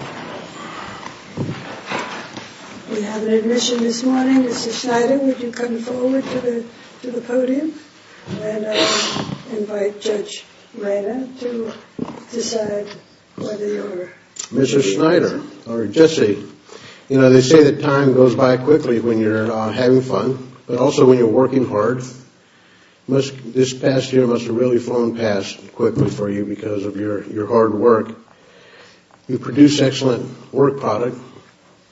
We have an admission this morning. Mr. Schneider, would you come forward to the podium, and I'll invite Judge Reina to decide whether you're... Mr. Schneider, or Jesse, you know, they say that time goes by quickly when you're having fun, but also when you're working hard. This past year must have really flown past quickly for you because of your hard work. You produce excellent work product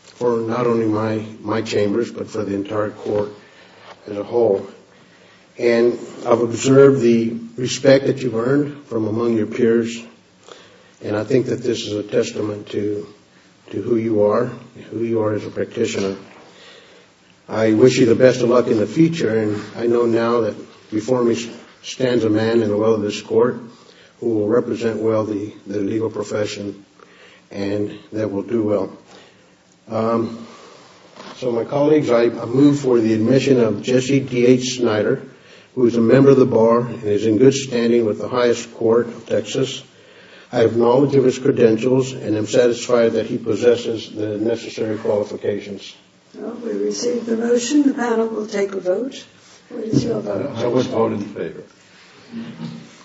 for not only my chambers, but for the entire court as a whole. And I've observed the respect that you've earned from among your peers, and I think that this is a testament to who you are, who you are as a practitioner. I wish you the best of luck in the future, and I know now that before me stands a man in the well of this court who will represent well the legal profession, and that will do well. So, my colleagues, I move for the admission of Jesse T.H. Schneider, who is a member of the bar and is in good standing with the highest court of Texas. I have knowledge of his credentials and am satisfied that he possesses the necessary qualifications. Well, we receive the motion. The panel will take a vote. I would vote in favor.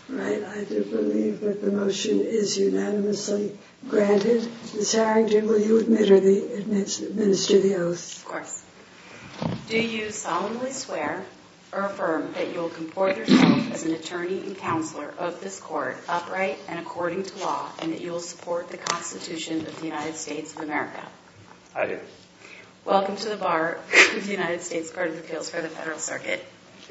All right, I do believe that the motion is unanimously granted. Ms. Harrington, will you administer the oath? Of course. Do you solemnly swear or affirm that you will comport yourself as an attorney and counselor of this court upright and according to law, and that you will support the Constitution of the United States of America? I do. Welcome to the bar of the United States Court of Appeals for the Federal Circuit. Thank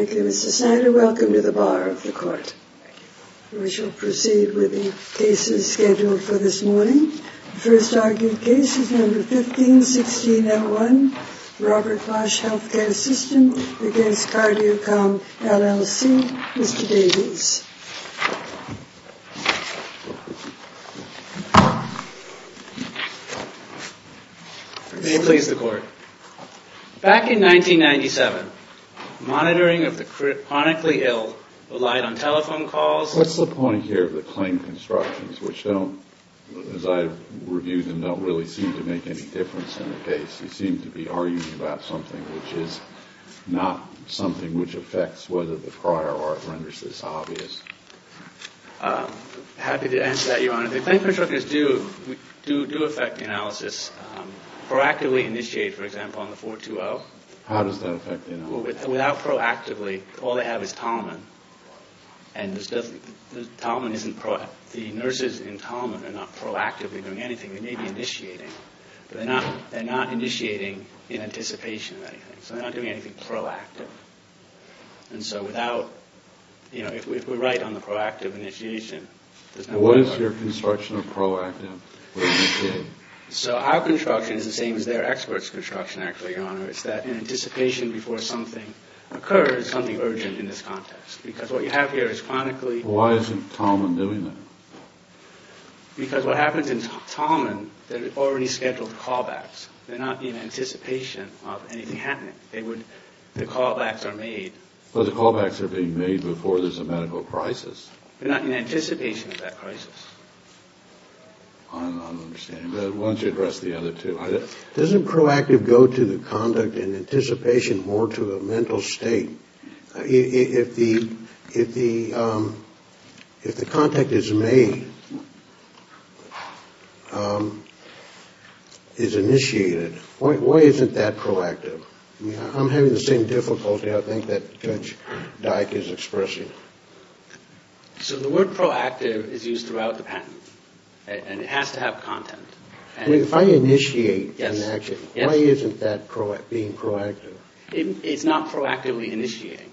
you. Thank you, Mr. Schneider. Welcome to the bar of the court. Thank you. We shall proceed with the cases scheduled for this morning. The first argued case is number 15-16-01, Robert Clash Healthcare System against Cardiacom, LLC. Mr. Davies. May it please the court. Back in 1997, monitoring of the chronically ill relied on telephone calls. What's the point here of the claim constructions, which don't, as I've reviewed them, don't really seem to make any difference in the case? They seem to be arguing about something which is not something which affects whether the prior art renders this obvious. Happy to answer that, Your Honor. The claim constructors do affect analysis. Proactively initiate, for example, on the 420. How does that affect analysis? Without proactively, all they have is Talman, and the nurses in Talman are not proactively doing anything. They may be initiating, but they're not initiating in anticipation of anything. So they're not doing anything proactive. And so without, you know, if we're right on the proactive initiation, there's no way to know. What is your construction of proactive? So our construction is the same as their experts' construction, actually, Your Honor. It's that in anticipation before something occurs, something urgent in this context. Because what you have here is chronically... Why isn't Talman doing that? Because what happens in Talman, they're already scheduled callbacks. They're not in anticipation of anything happening. The callbacks are made... But the callbacks are being made before there's a medical crisis. They're not in anticipation of that crisis. I don't understand. Why don't you address the other two? Doesn't proactive go to the conduct in anticipation more to a mental state? If the contact is made, is initiated, why isn't that proactive? I'm having the same difficulty, I think, that Judge Dyck is expressing. So the word proactive is used throughout the patent. And it has to have content. If I initiate an action, why isn't that being proactive? It's not proactively initiating.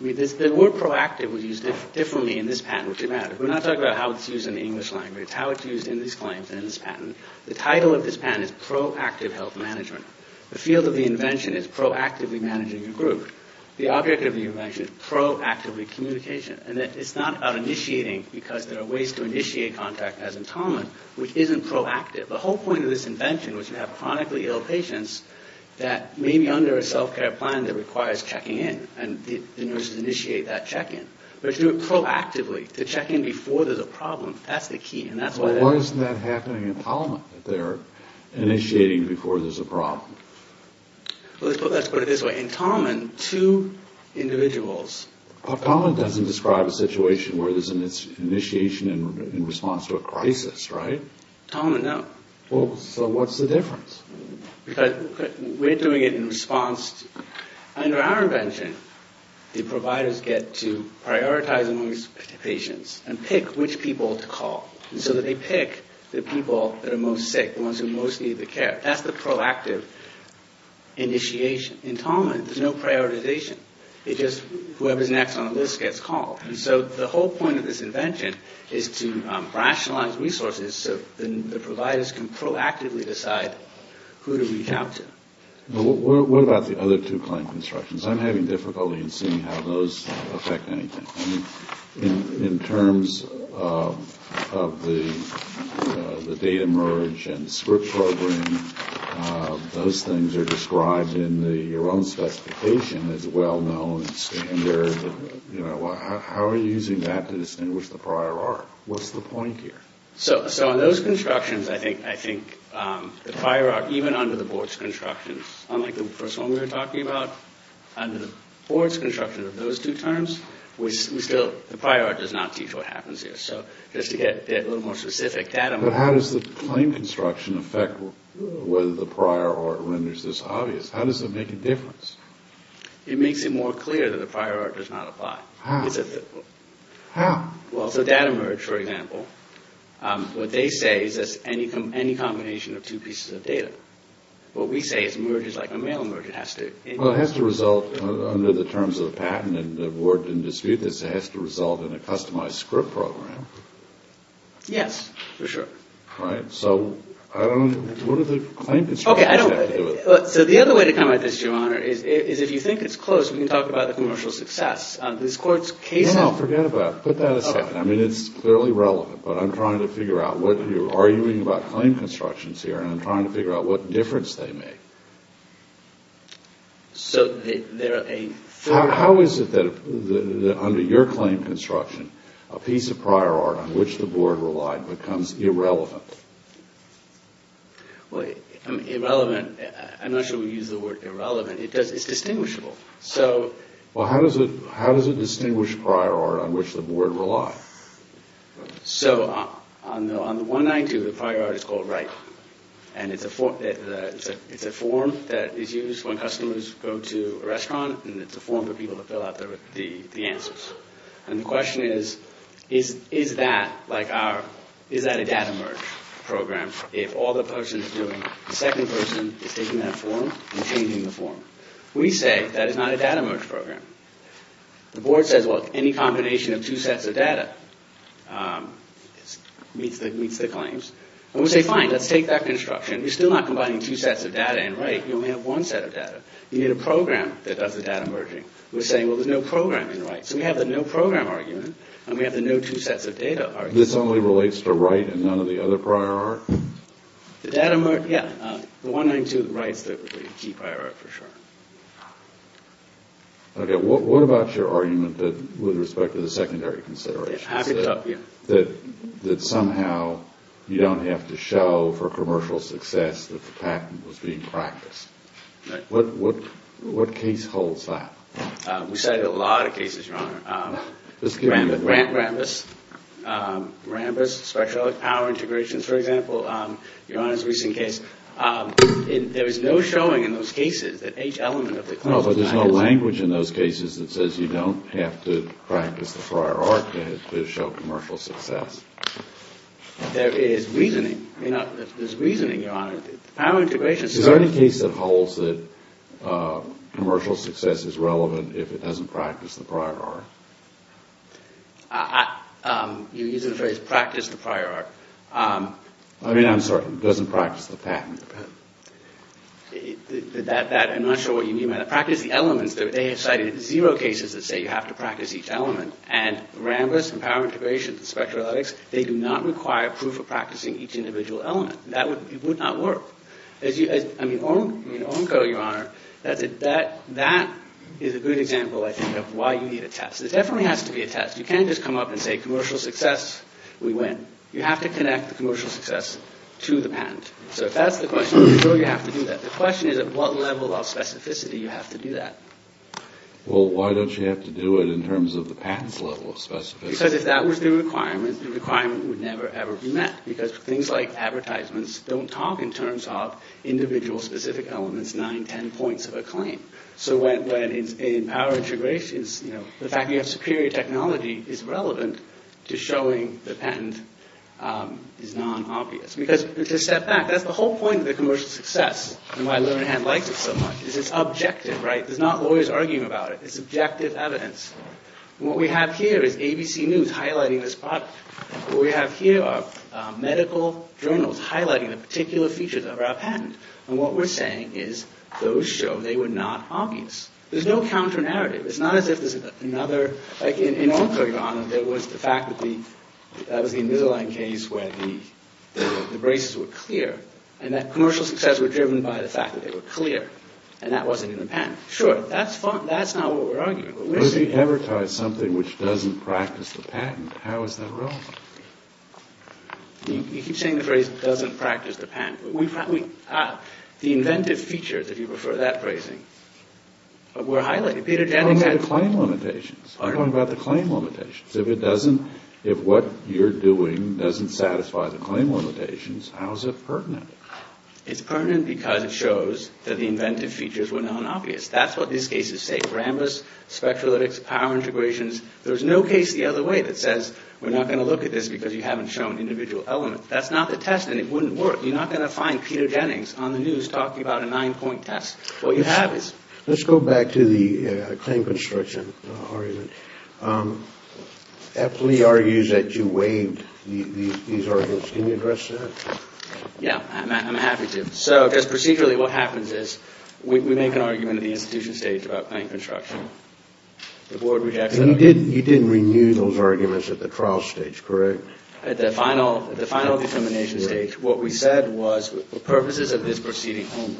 The word proactive was used differently in this patent, which is matter. We're not talking about how it's used in the English language, how it's used in these claims and in this patent. The title of this patent is proactive health management. The field of the invention is proactively managing a group. The object of the invention is proactively communication. And it's not about initiating because there are ways to initiate contact as in Talman, which isn't proactive. The whole point of this invention was to have chronically ill patients that may be under a self-care plan that requires checking in. And the nurses initiate that check-in. But to do it proactively, to check in before there's a problem, that's the key. Why isn't that happening in Talman? They're initiating before there's a problem. Let's put it this way. In Talman, two individuals... Talman doesn't describe a situation where there's an initiation in response to a crisis, right? Talman, no. Well, so what's the difference? Because we're doing it in response... Under our invention, the providers get to prioritize among patients and pick which people to call. And so they pick the people that are most sick, the ones who most need the care. That's the proactive initiation. In Talman, there's no prioritization. It's just whoever's next on the list gets called. And so the whole point of this invention is to rationalize resources so the providers can proactively decide who to reach out to. What about the other two client constructions? I'm having difficulty in seeing how those affect anything. In terms of the data merge and script program, those things are described in your own specification as well-known and standard. How are you using that to distinguish the prior art? What's the point here? So on those constructions, I think the prior art, even under the board's constructions, unlike the first one we were talking about, under the board's construction of those two terms, the prior art does not teach what happens here. So just to get a little more specific, data merge... But how does the claim construction affect whether the prior art renders this obvious? How does it make a difference? It makes it more clear that the prior art does not apply. How? Well, so data merge, for example, what they say is that it's any combination of two pieces of data. What we say is merge is like a mail merge. It has to... Well, it has to result, under the terms of the patent, and the board didn't dispute this, it has to result in a customized script program. Yes, for sure. Right. So what do the claim constructions have to do with it? So the other way to come at this, Your Honor, is if you think it's close, we can talk about the commercial success. This court's case... No, forget about it. Put that aside. I mean, it's clearly relevant, but I'm trying to figure out what you're arguing about claim constructions here, and I'm trying to figure out what difference they make. So they're a... How is it that, under your claim construction, a piece of prior art on which the board relied becomes irrelevant? Well, irrelevant... I'm not sure we use the word irrelevant. It's distinguishable, so... Well, how does it distinguish prior art on which the board relied? So on the 192, the prior art is called RIPE, and it's a form that is used when customers go to a restaurant, and it's a form for people to fill out the answers. And the question is, is that like our... Is that a data merge program if all the person is doing, the second person is taking that form and changing the form? We say that is not a data merge program. The board says, well, any combination of two sets of data meets the claims. And we say, fine, let's take that construction. We're still not combining two sets of data in RIPE. You only have one set of data. You need a program that does the data merging. We're saying, well, there's no program in RIPE. So we have the no program argument, and we have the no two sets of data argument. This only relates to RIPE and none of the other prior art? The data merge, yeah. The 192, RIPE's the key prior art, for sure. Okay. What about your argument that, with respect to the secondary considerations, that somehow you don't have to show for commercial success that the patent was being practiced? What case holds that? We cited a lot of cases, Your Honor. Just give me a minute. Rambis, Rambis, Rambis Specialist Power Integrations, for example, Your Honor's recent case. There is no showing in those cases that each element of the claim is a mechanism. No, but there's no language in those cases that says you don't have to practice the prior art to show commercial success. There is reasoning. There's reasoning, Your Honor. Power integration's a case. Is there any case that holds that commercial success is relevant if it doesn't practice the prior art? You're using the phrase practice the prior art. I mean, I'm sorry. It doesn't practice the patent. I'm not sure what you mean by that. Practice the elements. They have cited zero cases that say you have to practice each element. And Rambis and Power Integrations and Spectralytics, they do not require proof of practicing each individual element. It would not work. I mean, ONCO, Your Honor, that is a good example, I think, of why you need a test. There definitely has to be a test. You can't just come up and say commercial success, we win. You have to connect the commercial success to the patent. So if that's the question, you have to do that. The question is at what level of specificity you have to do that. Well, why don't you have to do it in terms of the patent's level of specificity? Because if that was the requirement, the requirement would never, ever be met. Because things like advertisements don't talk in terms of individual specific elements, nine, ten points of a claim. So when in Power Integrations, you know, the fact that you have superior technology is relevant to showing the patent is non-obvious. Because to step back, that's the whole point of the commercial success and why Lonerhan likes it so much. It's objective, right? There's not lawyers arguing about it. It's objective evidence. What we have here is ABC News highlighting this product. What we have here are medical journals highlighting the particular features of our patent. And what we're saying is those show they were not obvious. There's no counter-narrative. It's not as if there's another. Like in Alcoa, your Honor, there was the fact that that was the Invisalign case where the braces were clear. And that commercial success were driven by the fact that they were clear. And that wasn't in the patent. Sure, that's fine. That's not what we're arguing. But if you advertise something which doesn't practice the patent, how is that relevant? You keep saying the phrase doesn't practice the patent. The inventive features, if you prefer that phrasing, were highlighted. I'm talking about the claim limitations. I'm talking about the claim limitations. If what you're doing doesn't satisfy the claim limitations, how is it pertinent? It's pertinent because it shows that the inventive features were not obvious. That's what these cases say. Rambus, Spectralytics, Power Integrations. There's no case the other way that says we're not going to look at this because you haven't shown individual elements. That's not the test and it wouldn't work. You're not going to find Peter Jennings on the news talking about a nine-point test. What you have is... Let's go back to the claim construction argument. Epley argues that you waived these arguments. Can you address that? Yeah, I'm happy to. So just procedurally what happens is we make an argument at the institution stage about claim construction. You didn't renew those arguments at the trial stage, correct? At the final determination stage. What we said was, for purposes of this proceeding only.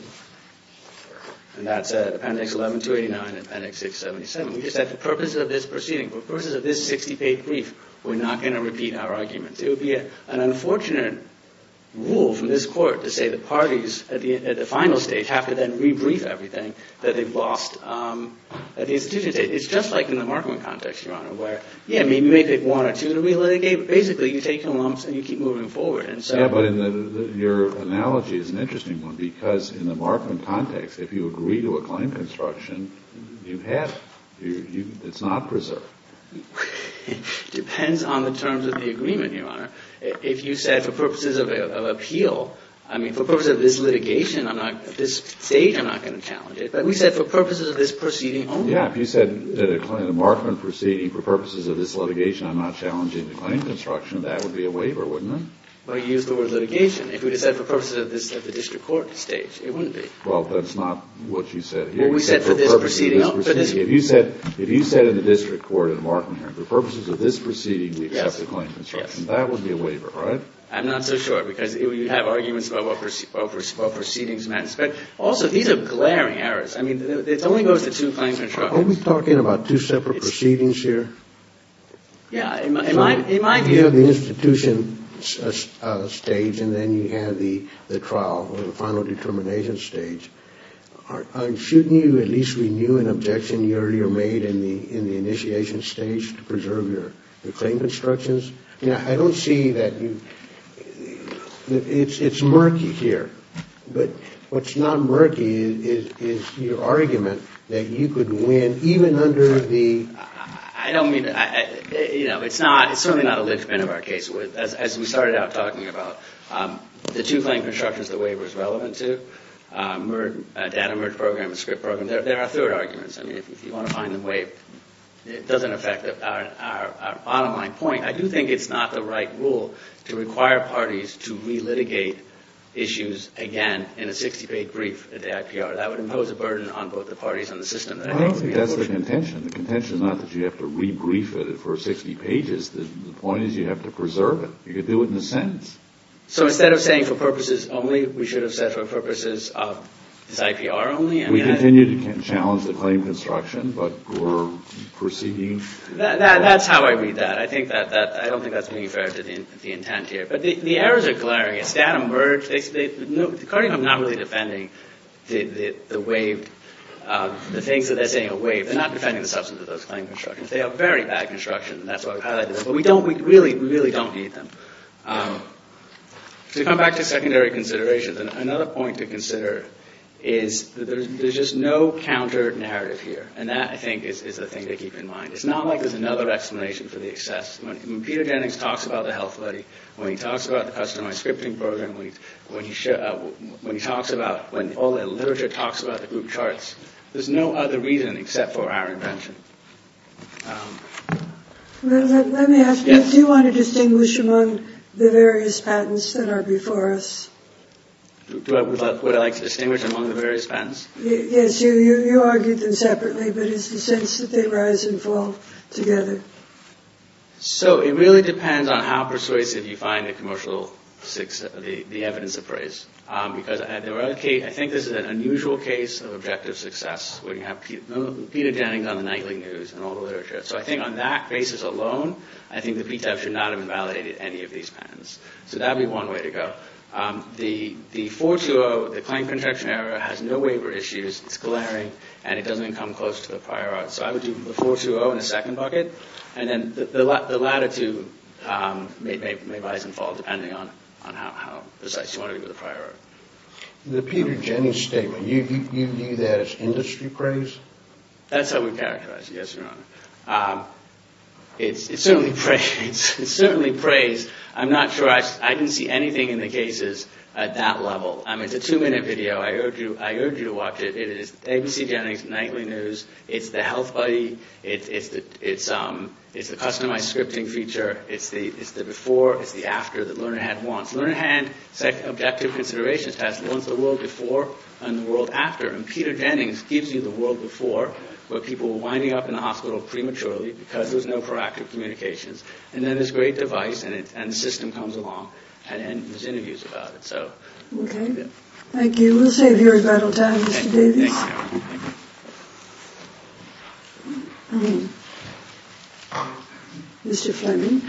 And that's appendix 11-289 and appendix 677. We just said, for purposes of this proceeding, for purposes of this 60-page brief, we're not going to repeat our arguments. It would be an unfortunate rule from this court to say the parties at the final stage have to then re-brief everything that they've lost at the institution stage. It's just like in the Markham context, Your Honor, where, yeah, we may pick one or two and re-litigate, but basically you take lumps and you keep moving forward. Yeah, but your analogy is an interesting one, because in the Markham context, if you agree to a claim construction, you have it. It's not preserved. It depends on the terms of the agreement, Your Honor. If you said, for purposes of appeal, I mean, for purposes of this litigation, I'm not, at this stage, I'm not going to challenge it. But we said, for purposes of this proceeding only. Yeah, if you said at a Markham proceeding, for purposes of this litigation, I'm not challenging the claim construction, that would be a waiver, wouldn't it? Well, you used the word litigation. If you said for purposes of this at the district court stage, it wouldn't be. Well, that's not what you said here. Well, we said for this proceeding. If you said in the district court at a Markham hearing, for purposes of this proceeding, we accept the claim construction, that would be a waiver, right? I'm not so sure, because you have arguments about what proceedings matter. But also, these are glaring errors. I mean, it only goes to two claims in a trial. Are we talking about two separate proceedings here? Yeah, in my view. You have the institution stage, and then you have the trial, or the final determination stage. Shouldn't you at least renew an objection you earlier made in the initiation stage to preserve your claim constructions? I don't see that you, it's murky here. But what's not murky is your argument that you could win, even under the... It's certainly not a linchpin of our case. As we started out talking about, the two claim constructions the waiver is relevant to, data merge program and script program, there are third arguments. I mean, if you want to find a way, it doesn't affect our bottom line point. I do think it's not the right rule to require parties to relitigate issues again in a 60-page brief at the IPR. That would impose a burden on both the parties and the system. I don't think that's the contention. The contention is not that you have to re-brief it for 60 pages. The point is you have to preserve it. You could do it in a sentence. So instead of saying for purposes only, we should have said for purposes of this IPR only? We continue to challenge the claim construction, but we're proceeding... That's how I read that. I don't think that's being fair to the intent here. But the errors are glaring. It's data merge. The Cardinals are not really defending the things that they're saying are waived. They're not defending the substance of those claim constructions. They have very bad construction, and that's what I've highlighted. But we really don't need them. To come back to secondary considerations, another point to consider is that there's just no counter-narrative here. And that, I think, is the thing to keep in mind. It's not like there's another explanation for the excess. When Peter Jennings talks about the health buddy, when he talks about the customized scripting program, when he talks about when all the literature talks about the group charts, there's no other reason except for our invention. Let me ask you, do you want to distinguish among the various patents that are before us? Would I like to distinguish among the various patents? Yes, you argued them separately, but it's the sense that they rise and fall together. So it really depends on how persuasive you find the evidence of praise. Because I think this is an unusual case of objective success, where you have Peter Jennings on the nightly news and all the literature. So I think on that basis alone, I think the PTEF should not have invalidated any of these patents. So that would be one way to go. The 420, the claim contraction error, has no waiver issues. It's glaring, and it doesn't come close to the prior art. So I would do the 420 in the second bucket. And then the latitude may rise and fall, depending on how precise you want to be with the prior art. The Peter Jennings statement, you view that as industry praise? That's how we characterize it, yes, Your Honor. It's certainly praise. I'm not sure I can see anything in the cases at that level. It's a two-minute video. I urge you to watch it. It is ABC Jennings, nightly news. It's the health buddy. It's the customized scripting feature. It's the before. It's the after that Lerner and Hand wants. Lerner and Hand objective considerations test wants the world before and the world after. And Peter Jennings gives you the world before, where people were winding up in the hospital prematurely because there was no proactive communications. And then this great device, and the system comes along, and there's interviews about it. Okay. Thank you. We'll save your regrettable time, Mr. Davies. Thank you. Mr. Fleming.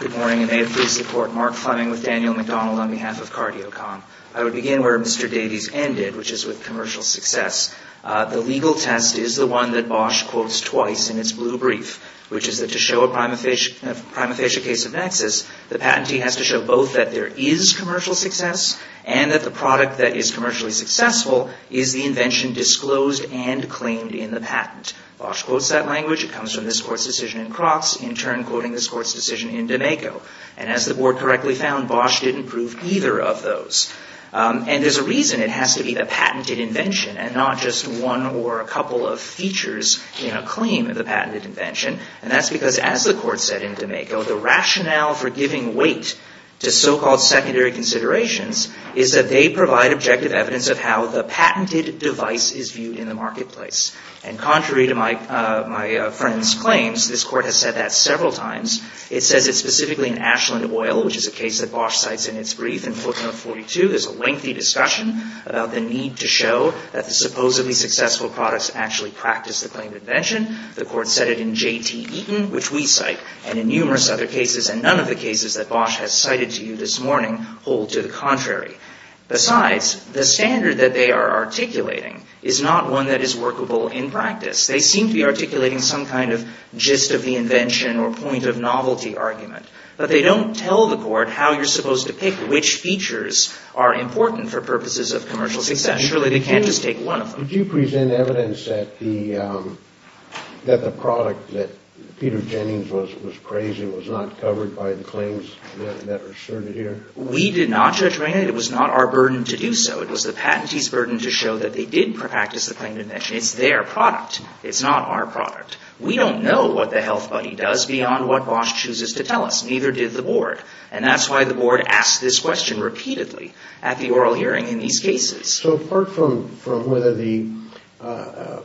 Good morning, and may it please the Court. Mark Fleming with Daniel McDonald on behalf of Cardiocom. I would begin where Mr. Davies ended, which is with commercial success. The legal test is the one that Bosch quotes twice in its blue brief, which is that to show a prima facie case of nexus, the patentee has to show both that there is commercial success and that the product that is commercially successful is the invention disclosed and claimed in the patent. Bosch quotes that language. It comes from this Court's decision in Crocs, in turn quoting this Court's decision in D'Amico. And as the Board correctly found, Bosch didn't prove either of those. And there's a reason it has to be the patented invention and not just one or a couple of features in a claim of the patented invention. And that's because, as the Court said in D'Amico, the rationale for giving weight to so-called secondary considerations is that they provide objective evidence of how the patented device is viewed in the marketplace. And contrary to my friend's claims, this Court has said that several times. It says it specifically in Ashland Oil, which is a case that Bosch cites in its brief. In footnote 42, there's a lengthy discussion about the need to show that the supposedly successful products actually practice the claimed invention. The Court said it in J.T. Eaton, which we cite, and in numerous other cases, and none of the cases that Bosch has cited to you this morning hold to the contrary. Besides, the standard that they are articulating is not one that is workable in practice. They seem to be articulating some kind of gist of the invention or point of novelty argument. But they don't tell the Court how you're supposed to pick which features are important for purposes of commercial success. Surely they can't just take one of them. Could you present evidence that the product that Peter Jennings was praising was not covered by the claims that are asserted here? We did not, Judge Rainey. It was not our burden to do so. It was the patentee's burden to show that they did practice the claimed invention. It's their product. It's not our product. We don't know what the health buddy does beyond what Bosch chooses to tell us. Neither did the Board. And that's why the Board asked this question repeatedly at the oral hearing in these cases. So apart from whether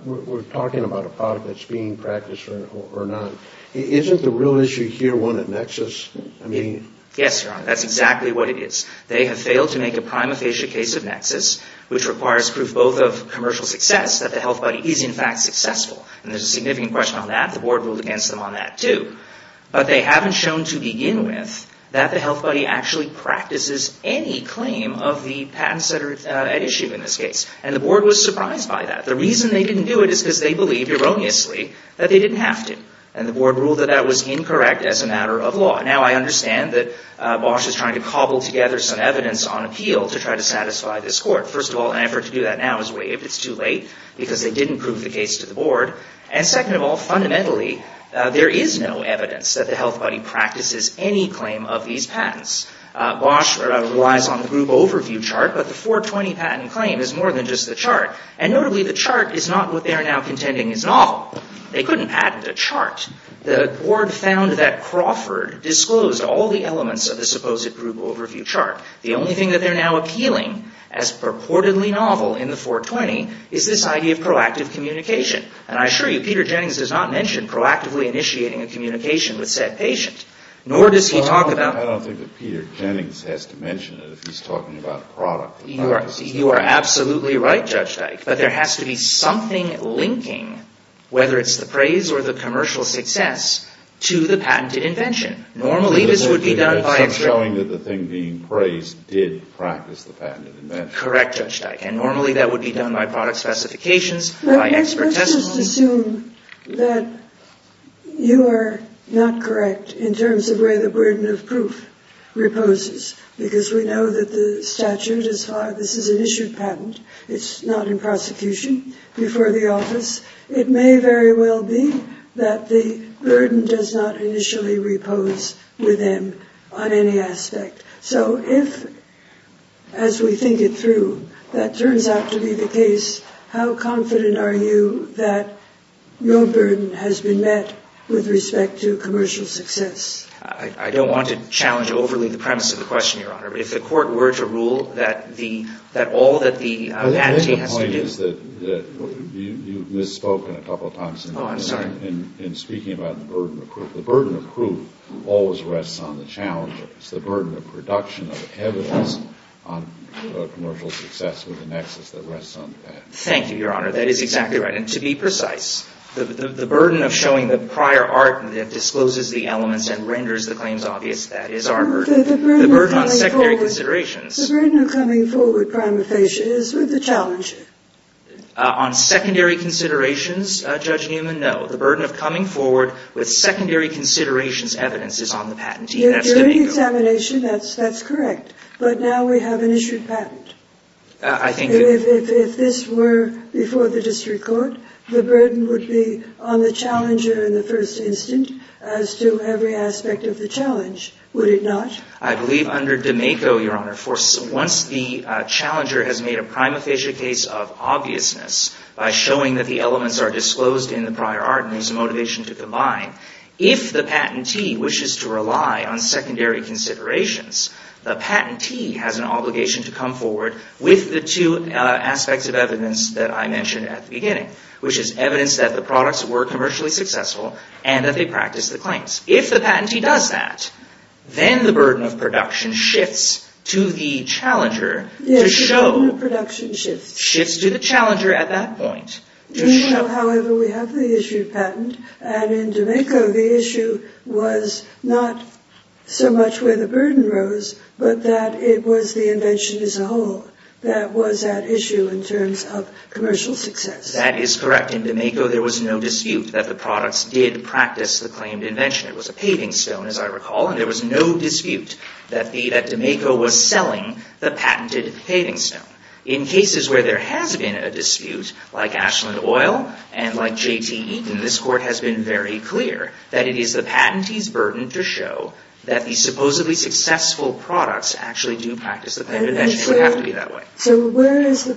we're talking about a product that's being practiced or not, isn't the real issue here one of nexus? Yes, Your Honor. That's exactly what it is. They have failed to make a prima facie case of nexus, which requires proof both of commercial success that the health buddy is, in fact, successful. And there's a significant question on that. The Board ruled against them on that, too. But they haven't shown to begin with that the health buddy actually practices any claim of the patents that are at issue in this case. And the Board was surprised by that. The reason they didn't do it is because they believed, erroneously, that they didn't have to. Now I understand that Bosch is trying to cobble together some evidence on appeal to try to satisfy this court. First of all, an effort to do that now is waived. It's too late because they didn't prove the case to the Board. And second of all, fundamentally, there is no evidence that the health buddy practices any claim of these patents. Bosch relies on the group overview chart, but the 420 patent claim is more than just the chart. And notably, the chart is not what they are now contending is novel. They couldn't patent a chart. The Board found that Crawford disclosed all the elements of the supposed group overview chart. The only thing that they're now appealing as purportedly novel in the 420 is this idea of proactive communication. And I assure you, Peter Jennings does not mention proactively initiating a communication with said patient, nor does he talk about I don't think that Peter Jennings has to mention it if he's talking about a product. You are absolutely right, Judge Dyke. But there has to be something linking, whether it's the praise or the commercial success, to the patented invention. Normally, this would be done by expert. It's not showing that the thing being praised did practice the patented invention. Correct, Judge Dyke. And normally, that would be done by product specifications, by expert testimony. Let's just assume that you are not correct in terms of where the burden of proof reposes, because we know that the statute is This is an issued patent. It's not in prosecution before the office. It may very well be that the burden does not initially repose with them on any aspect. So if, as we think it through, that turns out to be the case, how confident are you that your burden has been met with respect to commercial success? I don't want to challenge overly the premise of the question, Your Honor. If the Court were to rule that all that the patentee has to do I think the point is that you've misspoken a couple of times in speaking about the burden of proof. The burden of proof always rests on the challenger. It's the burden of production of evidence on commercial success with the nexus that rests on the patent. Thank you, Your Honor. That is exactly right. And to be precise, the burden of showing the prior art that discloses the elements and renders the claims obvious, that is our burden. The burden of coming forward, Prima Facie, is with the challenger. On secondary considerations, Judge Newman, no. The burden of coming forward with secondary considerations evidence is on the patentee. During examination, that's correct. But now we have an issued patent. If this were before the district court, the burden would be on the challenger in the first instant as to every aspect of the challenge, would it not? I believe under D'Amico, Your Honor, once the challenger has made a Prima Facie case of obviousness by showing that the elements are disclosed in the prior art and there's a motivation to combine, if the patentee wishes to rely on secondary considerations, the patentee has an obligation to come forward with the two aspects of evidence that I mentioned at the beginning, which is evidence that the products were commercially successful and that they practiced the claims. If the patentee does that, then the burden of production shifts to the challenger to show. Yes, the burden of production shifts. Shifts to the challenger at that point. However, we have the issued patent. And in D'Amico, the issue was not so much where the burden rose, but that it was the invention as a whole that was at issue in terms of commercial success. That is correct. In D'Amico, there was no dispute that the products did practice the claimed invention. It was a paving stone, as I recall, and there was no dispute that D'Amico was selling the patented paving stone. In cases where there has been a dispute, like Ashland Oil and like J.T. Eaton, this Court has been very clear that it is the patentee's burden to show that the supposedly successful products actually do practice the claimed invention. It would have to be that way. So where is your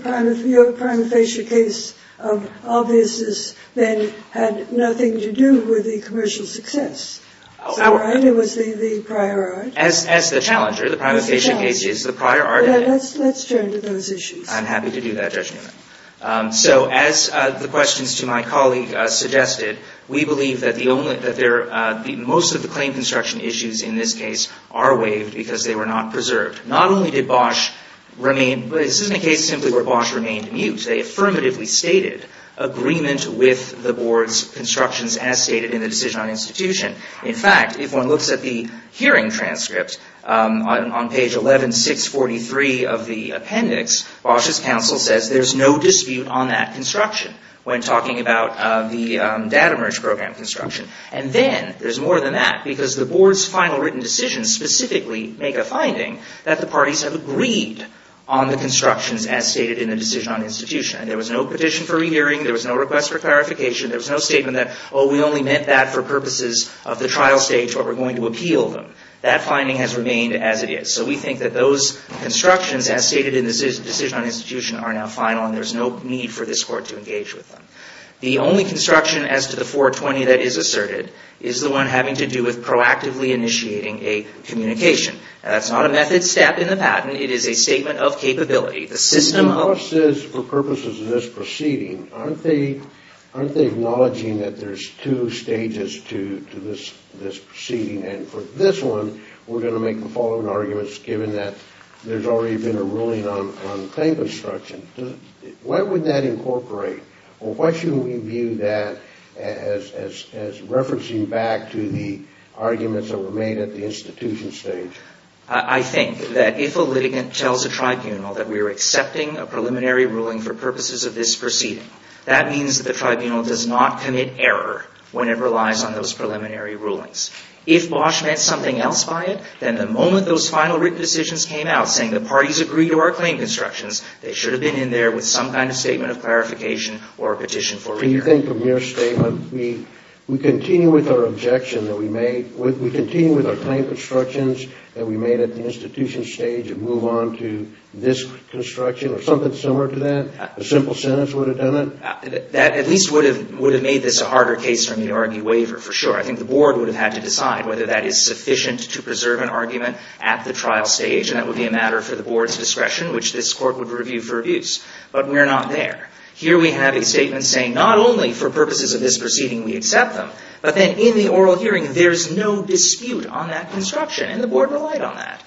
prima facie case of obviousness then had nothing to do with the commercial success? It was the prior art? As the challenger, the prima facie case is the prior art. Let's turn to those issues. I'm happy to do that, Judge Newman. So as the questions to my colleague suggested, we believe that most of the claim construction issues in this case are waived because they were not preserved. Not only did Bosch remain, but this isn't a case simply where Bosch remained mute. They affirmatively stated agreement with the Board's constructions as stated in the Decision on Institution. In fact, if one looks at the hearing transcript on page 11643 of the appendix, Bosch's counsel says there's no dispute on that construction when talking about the data merge program construction. And then there's more than that, because the Board's final written decisions specifically make a finding that the parties have agreed on the constructions as stated in the Decision on Institution. And there was no petition for rehearing. There was no request for clarification. There was no statement that, oh, we only meant that for purposes of the trial stage, but we're going to appeal them. That finding has remained as it is. So we think that those constructions as stated in the Decision on Institution are now final, and there's no need for this Court to engage with them. The only construction as to the 420 that is asserted is the one having to do with proactively initiating a communication. That's not a method step in the patent. It is a statement of capability. The system of… If Bosch says for purposes of this proceeding, aren't they acknowledging that there's two stages to this proceeding? And for this one, we're going to make the following arguments, given that there's already been a ruling on claim construction. What would that incorporate? Or what should we view that as referencing back to the arguments that were made at the institution stage? I think that if a litigant tells a tribunal that we're accepting a preliminary ruling for purposes of this proceeding, that means that the tribunal does not commit error when it relies on those preliminary rulings. If Bosch meant something else by it, then the moment those final written decisions came out saying the parties agreed to our claim constructions, they should have been in there with some kind of statement of clarification or a petition for review. Do you think from your statement, we continue with our objection that we made, we continue with our claim constructions that we made at the institution stage and move on to this construction or something similar to that? A simple sentence would have done it? That at least would have made this a harder case from the argue waiver, for sure. I think the board would have had to decide whether that is sufficient to preserve an argument at the trial stage, and that would be a matter for the board's discretion, which this court would review for abuse. But we're not there. Here we have a statement saying not only for purposes of this proceeding we accept them, but then in the oral hearing there's no dispute on that construction, and the board relied on that.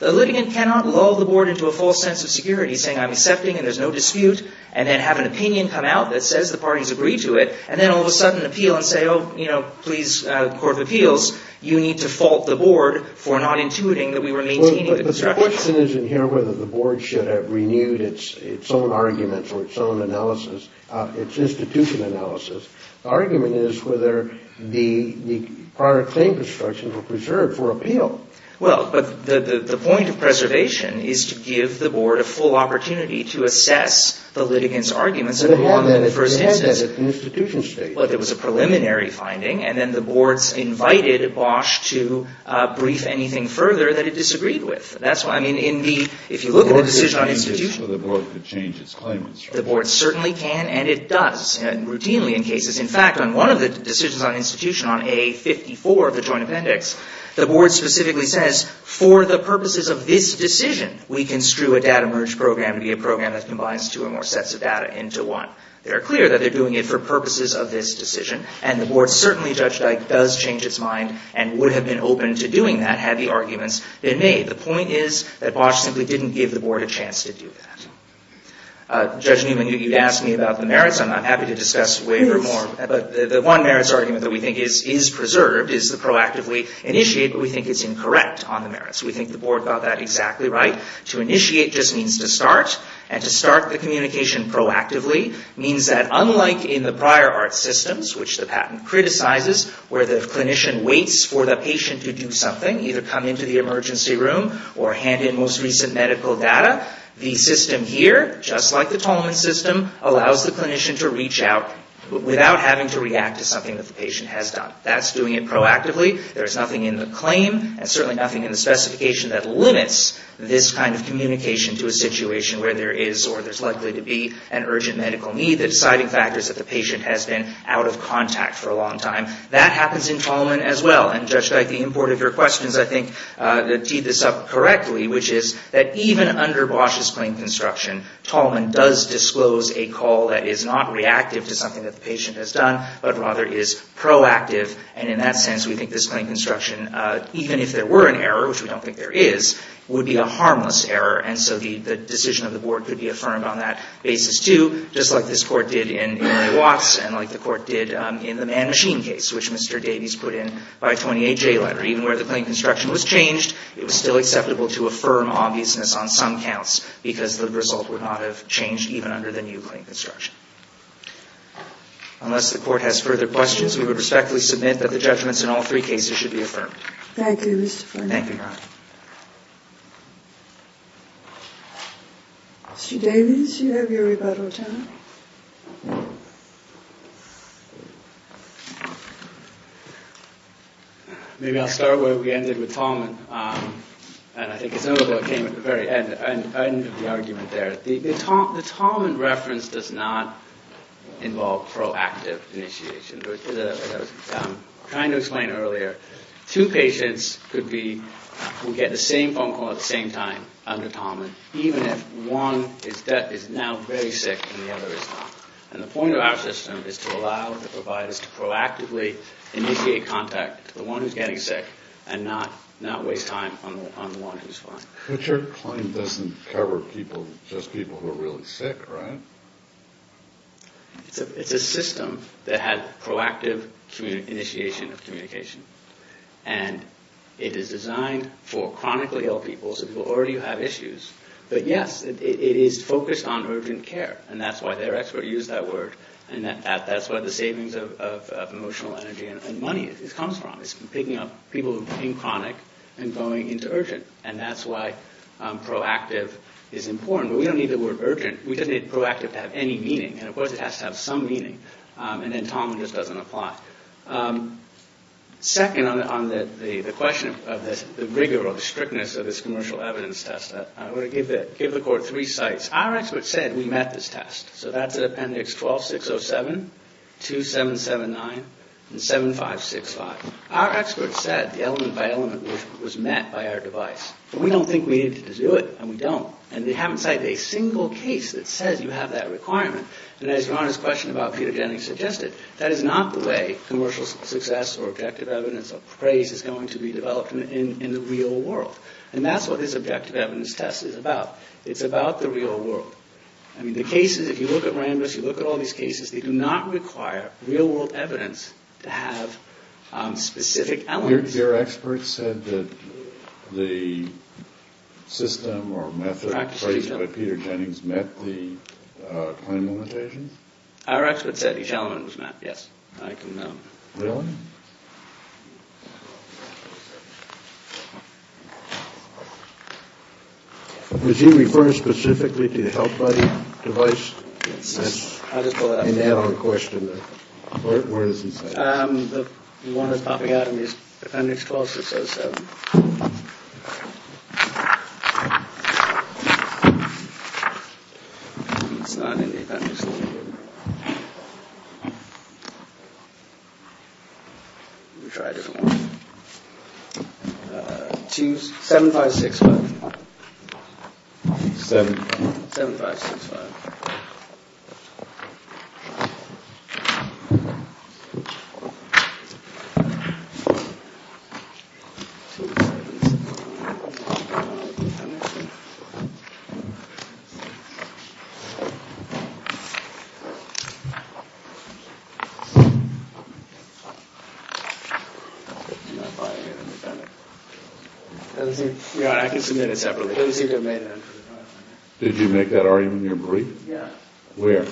The litigant cannot lull the board into a false sense of security, saying I'm accepting and there's no dispute, and then have an opinion come out that says the parties agree to it, and then all of a sudden appeal and say, oh, you know, please, court of appeals, you need to fault the board for not intuiting that we were maintaining the constructions. But the question isn't here whether the board should have renewed its own argument or its own analysis, its institution analysis. The argument is whether the prior claim constructions were preserved for appeal. Well, but the point of preservation is to give the board a full opportunity to assess the litigant's arguments that were made in the first instance. But it had been at the institution stage. Well, there was a preliminary finding, and then the boards invited Bosch to brief anything further that it disagreed with. That's why, I mean, in the, if you look at the decision on institution. The board could change its claim constructions. The board certainly can, and it does routinely in cases. In fact, on one of the decisions on institution on A54 of the joint appendix, the board specifically says for the purposes of this decision, we construe a data merge program to be a program that combines two or more sets of data into one. They're clear that they're doing it for purposes of this decision, and the board certainly, Judge Dyke, does change its mind and would have been open to doing that had the arguments been made. The point is that Bosch simply didn't give the board a chance to do that. Judge Newman, you asked me about the merits, and I'm happy to discuss waiver more, but the one merits argument that we think is preserved is the proactively initiate, but we think it's incorrect on the merits. We think the board got that exactly right. To initiate just means to start, and to start the communication proactively means that, unlike in the prior art systems, which the patent criticizes, where the clinician waits for the patient to do something, either come into the emergency room or hand in most recent medical data, the system here, just like the Tolman system, allows the clinician to reach out without having to react to something that the patient has done. That's doing it proactively. There's nothing in the claim, and certainly nothing in the specification, that limits this kind of communication to a situation where there is, or there's likely to be, an urgent medical need. The deciding factor is that the patient has been out of contact for a long time. That happens in Tolman as well, and Judge Dyke, the import of your questions, I think, teed this up correctly, which is that even under Bosch's claim construction, Tolman does disclose a call that is not reactive to something that the patient has done, but rather is proactive, and in that sense, we think this claim construction, even if there were an error, which we don't think there is, would be a harmless error, and so the decision of the board could be affirmed on that basis too, just like this court did in Watts, and like the court did in the Man-Machine case, which Mr. Davies put in by a 28-J letter. Even where the claim construction was changed, it was still acceptable to affirm obviousness on some counts, because the result would not have changed even under the new claim construction. Unless the court has further questions, we would respectfully submit that the judgments in all three cases should be affirmed. Thank you, Mr. Forney. Thank you, Your Honor. Mr. Davies, you have your rebuttal time. Maybe I'll start where we ended with Tolman, and I think it's notable it came at the very end of the argument there. The Tolman reference does not involve proactive initiation. As I was trying to explain earlier, two patients could get the same phone call at the same time under Tolman, even if one is now very sick and the other is not. And the point of our system is to allow the providers to proactively initiate contact to the one who's getting sick and not waste time on the one who's fine. But your claim doesn't cover just people who are really sick, right? It's a system that had proactive initiation of communication, and it is designed for chronically ill people, so people who already have issues. But yes, it is focused on urgent care, and that's why their expert used that word, and that's where the savings of emotional energy and money comes from. It's picking up people who became chronic and going into urgent, and that's why proactive is important. But we don't need the word urgent. We just need proactive to have any meaning, and of course it has to have some meaning, and then Tolman just doesn't apply. Second, on the question of the rigor or the strictness of this commercial evidence test, I want to give the Court three sites. Our expert said we met this test, so that's at Appendix 12607, 2779, and 7565. Our expert said the element-by-element was met by our device, but we don't think we needed to do it, and we don't. And they haven't cited a single case that says you have that requirement, and as Your Honor's question about pedogenic suggested, that is not the way commercial success or objective evidence of praise is going to be developed in the real world, and that's what this objective evidence test is about. It's about the real world. I mean, the cases, if you look at RANDIS, you look at all these cases, they do not require real world evidence to have specific elements. Your expert said that the system or method praised by Peter Jennings met the claim limitations? Our expert said each element was met, yes. I can know. Really? Thank you. Was he referring specifically to the health buddy device? Yes. I'll just pull that up. Any add-on question there? Where is it? The one that's popping out in Appendix 12607. It's not in the Appendix 12607. Let me try a different one. 7565. 7565. Your Honor, I can submit it separately. Did you make that argument in your brief? Yes. Where?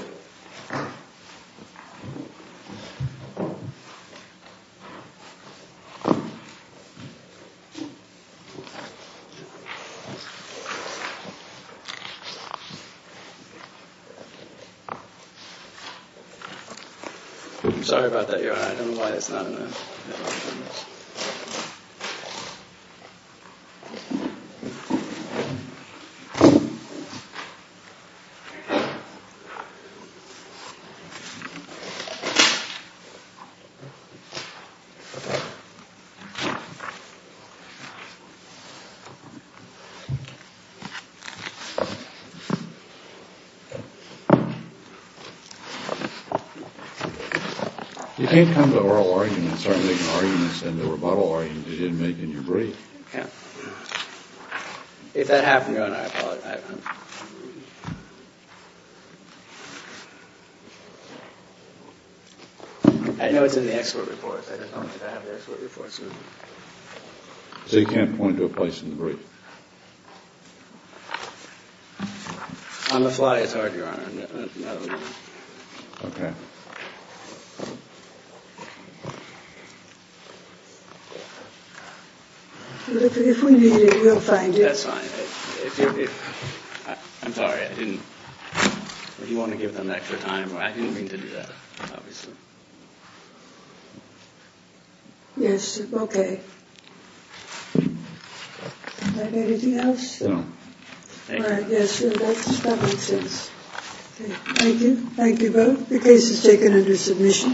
I'm sorry about that, Your Honor. I don't know why it's not in there. It's not in there. I'm sorry to make an argument. It's in the rebuttal argument that you didn't make in your brief. Okay. If that happened, Your Honor, I apologize. I know it's in the expert report. On the fly, it's hard, Your Honor. Okay. If we need it, we'll find it. That's fine. I'm sorry. I didn't want to give them extra time. I didn't mean to do that, obviously. Yes, okay. Anything else? No. Thank you. All right. Yes. That makes sense. Thank you. Thank you both. The case is taken under submission.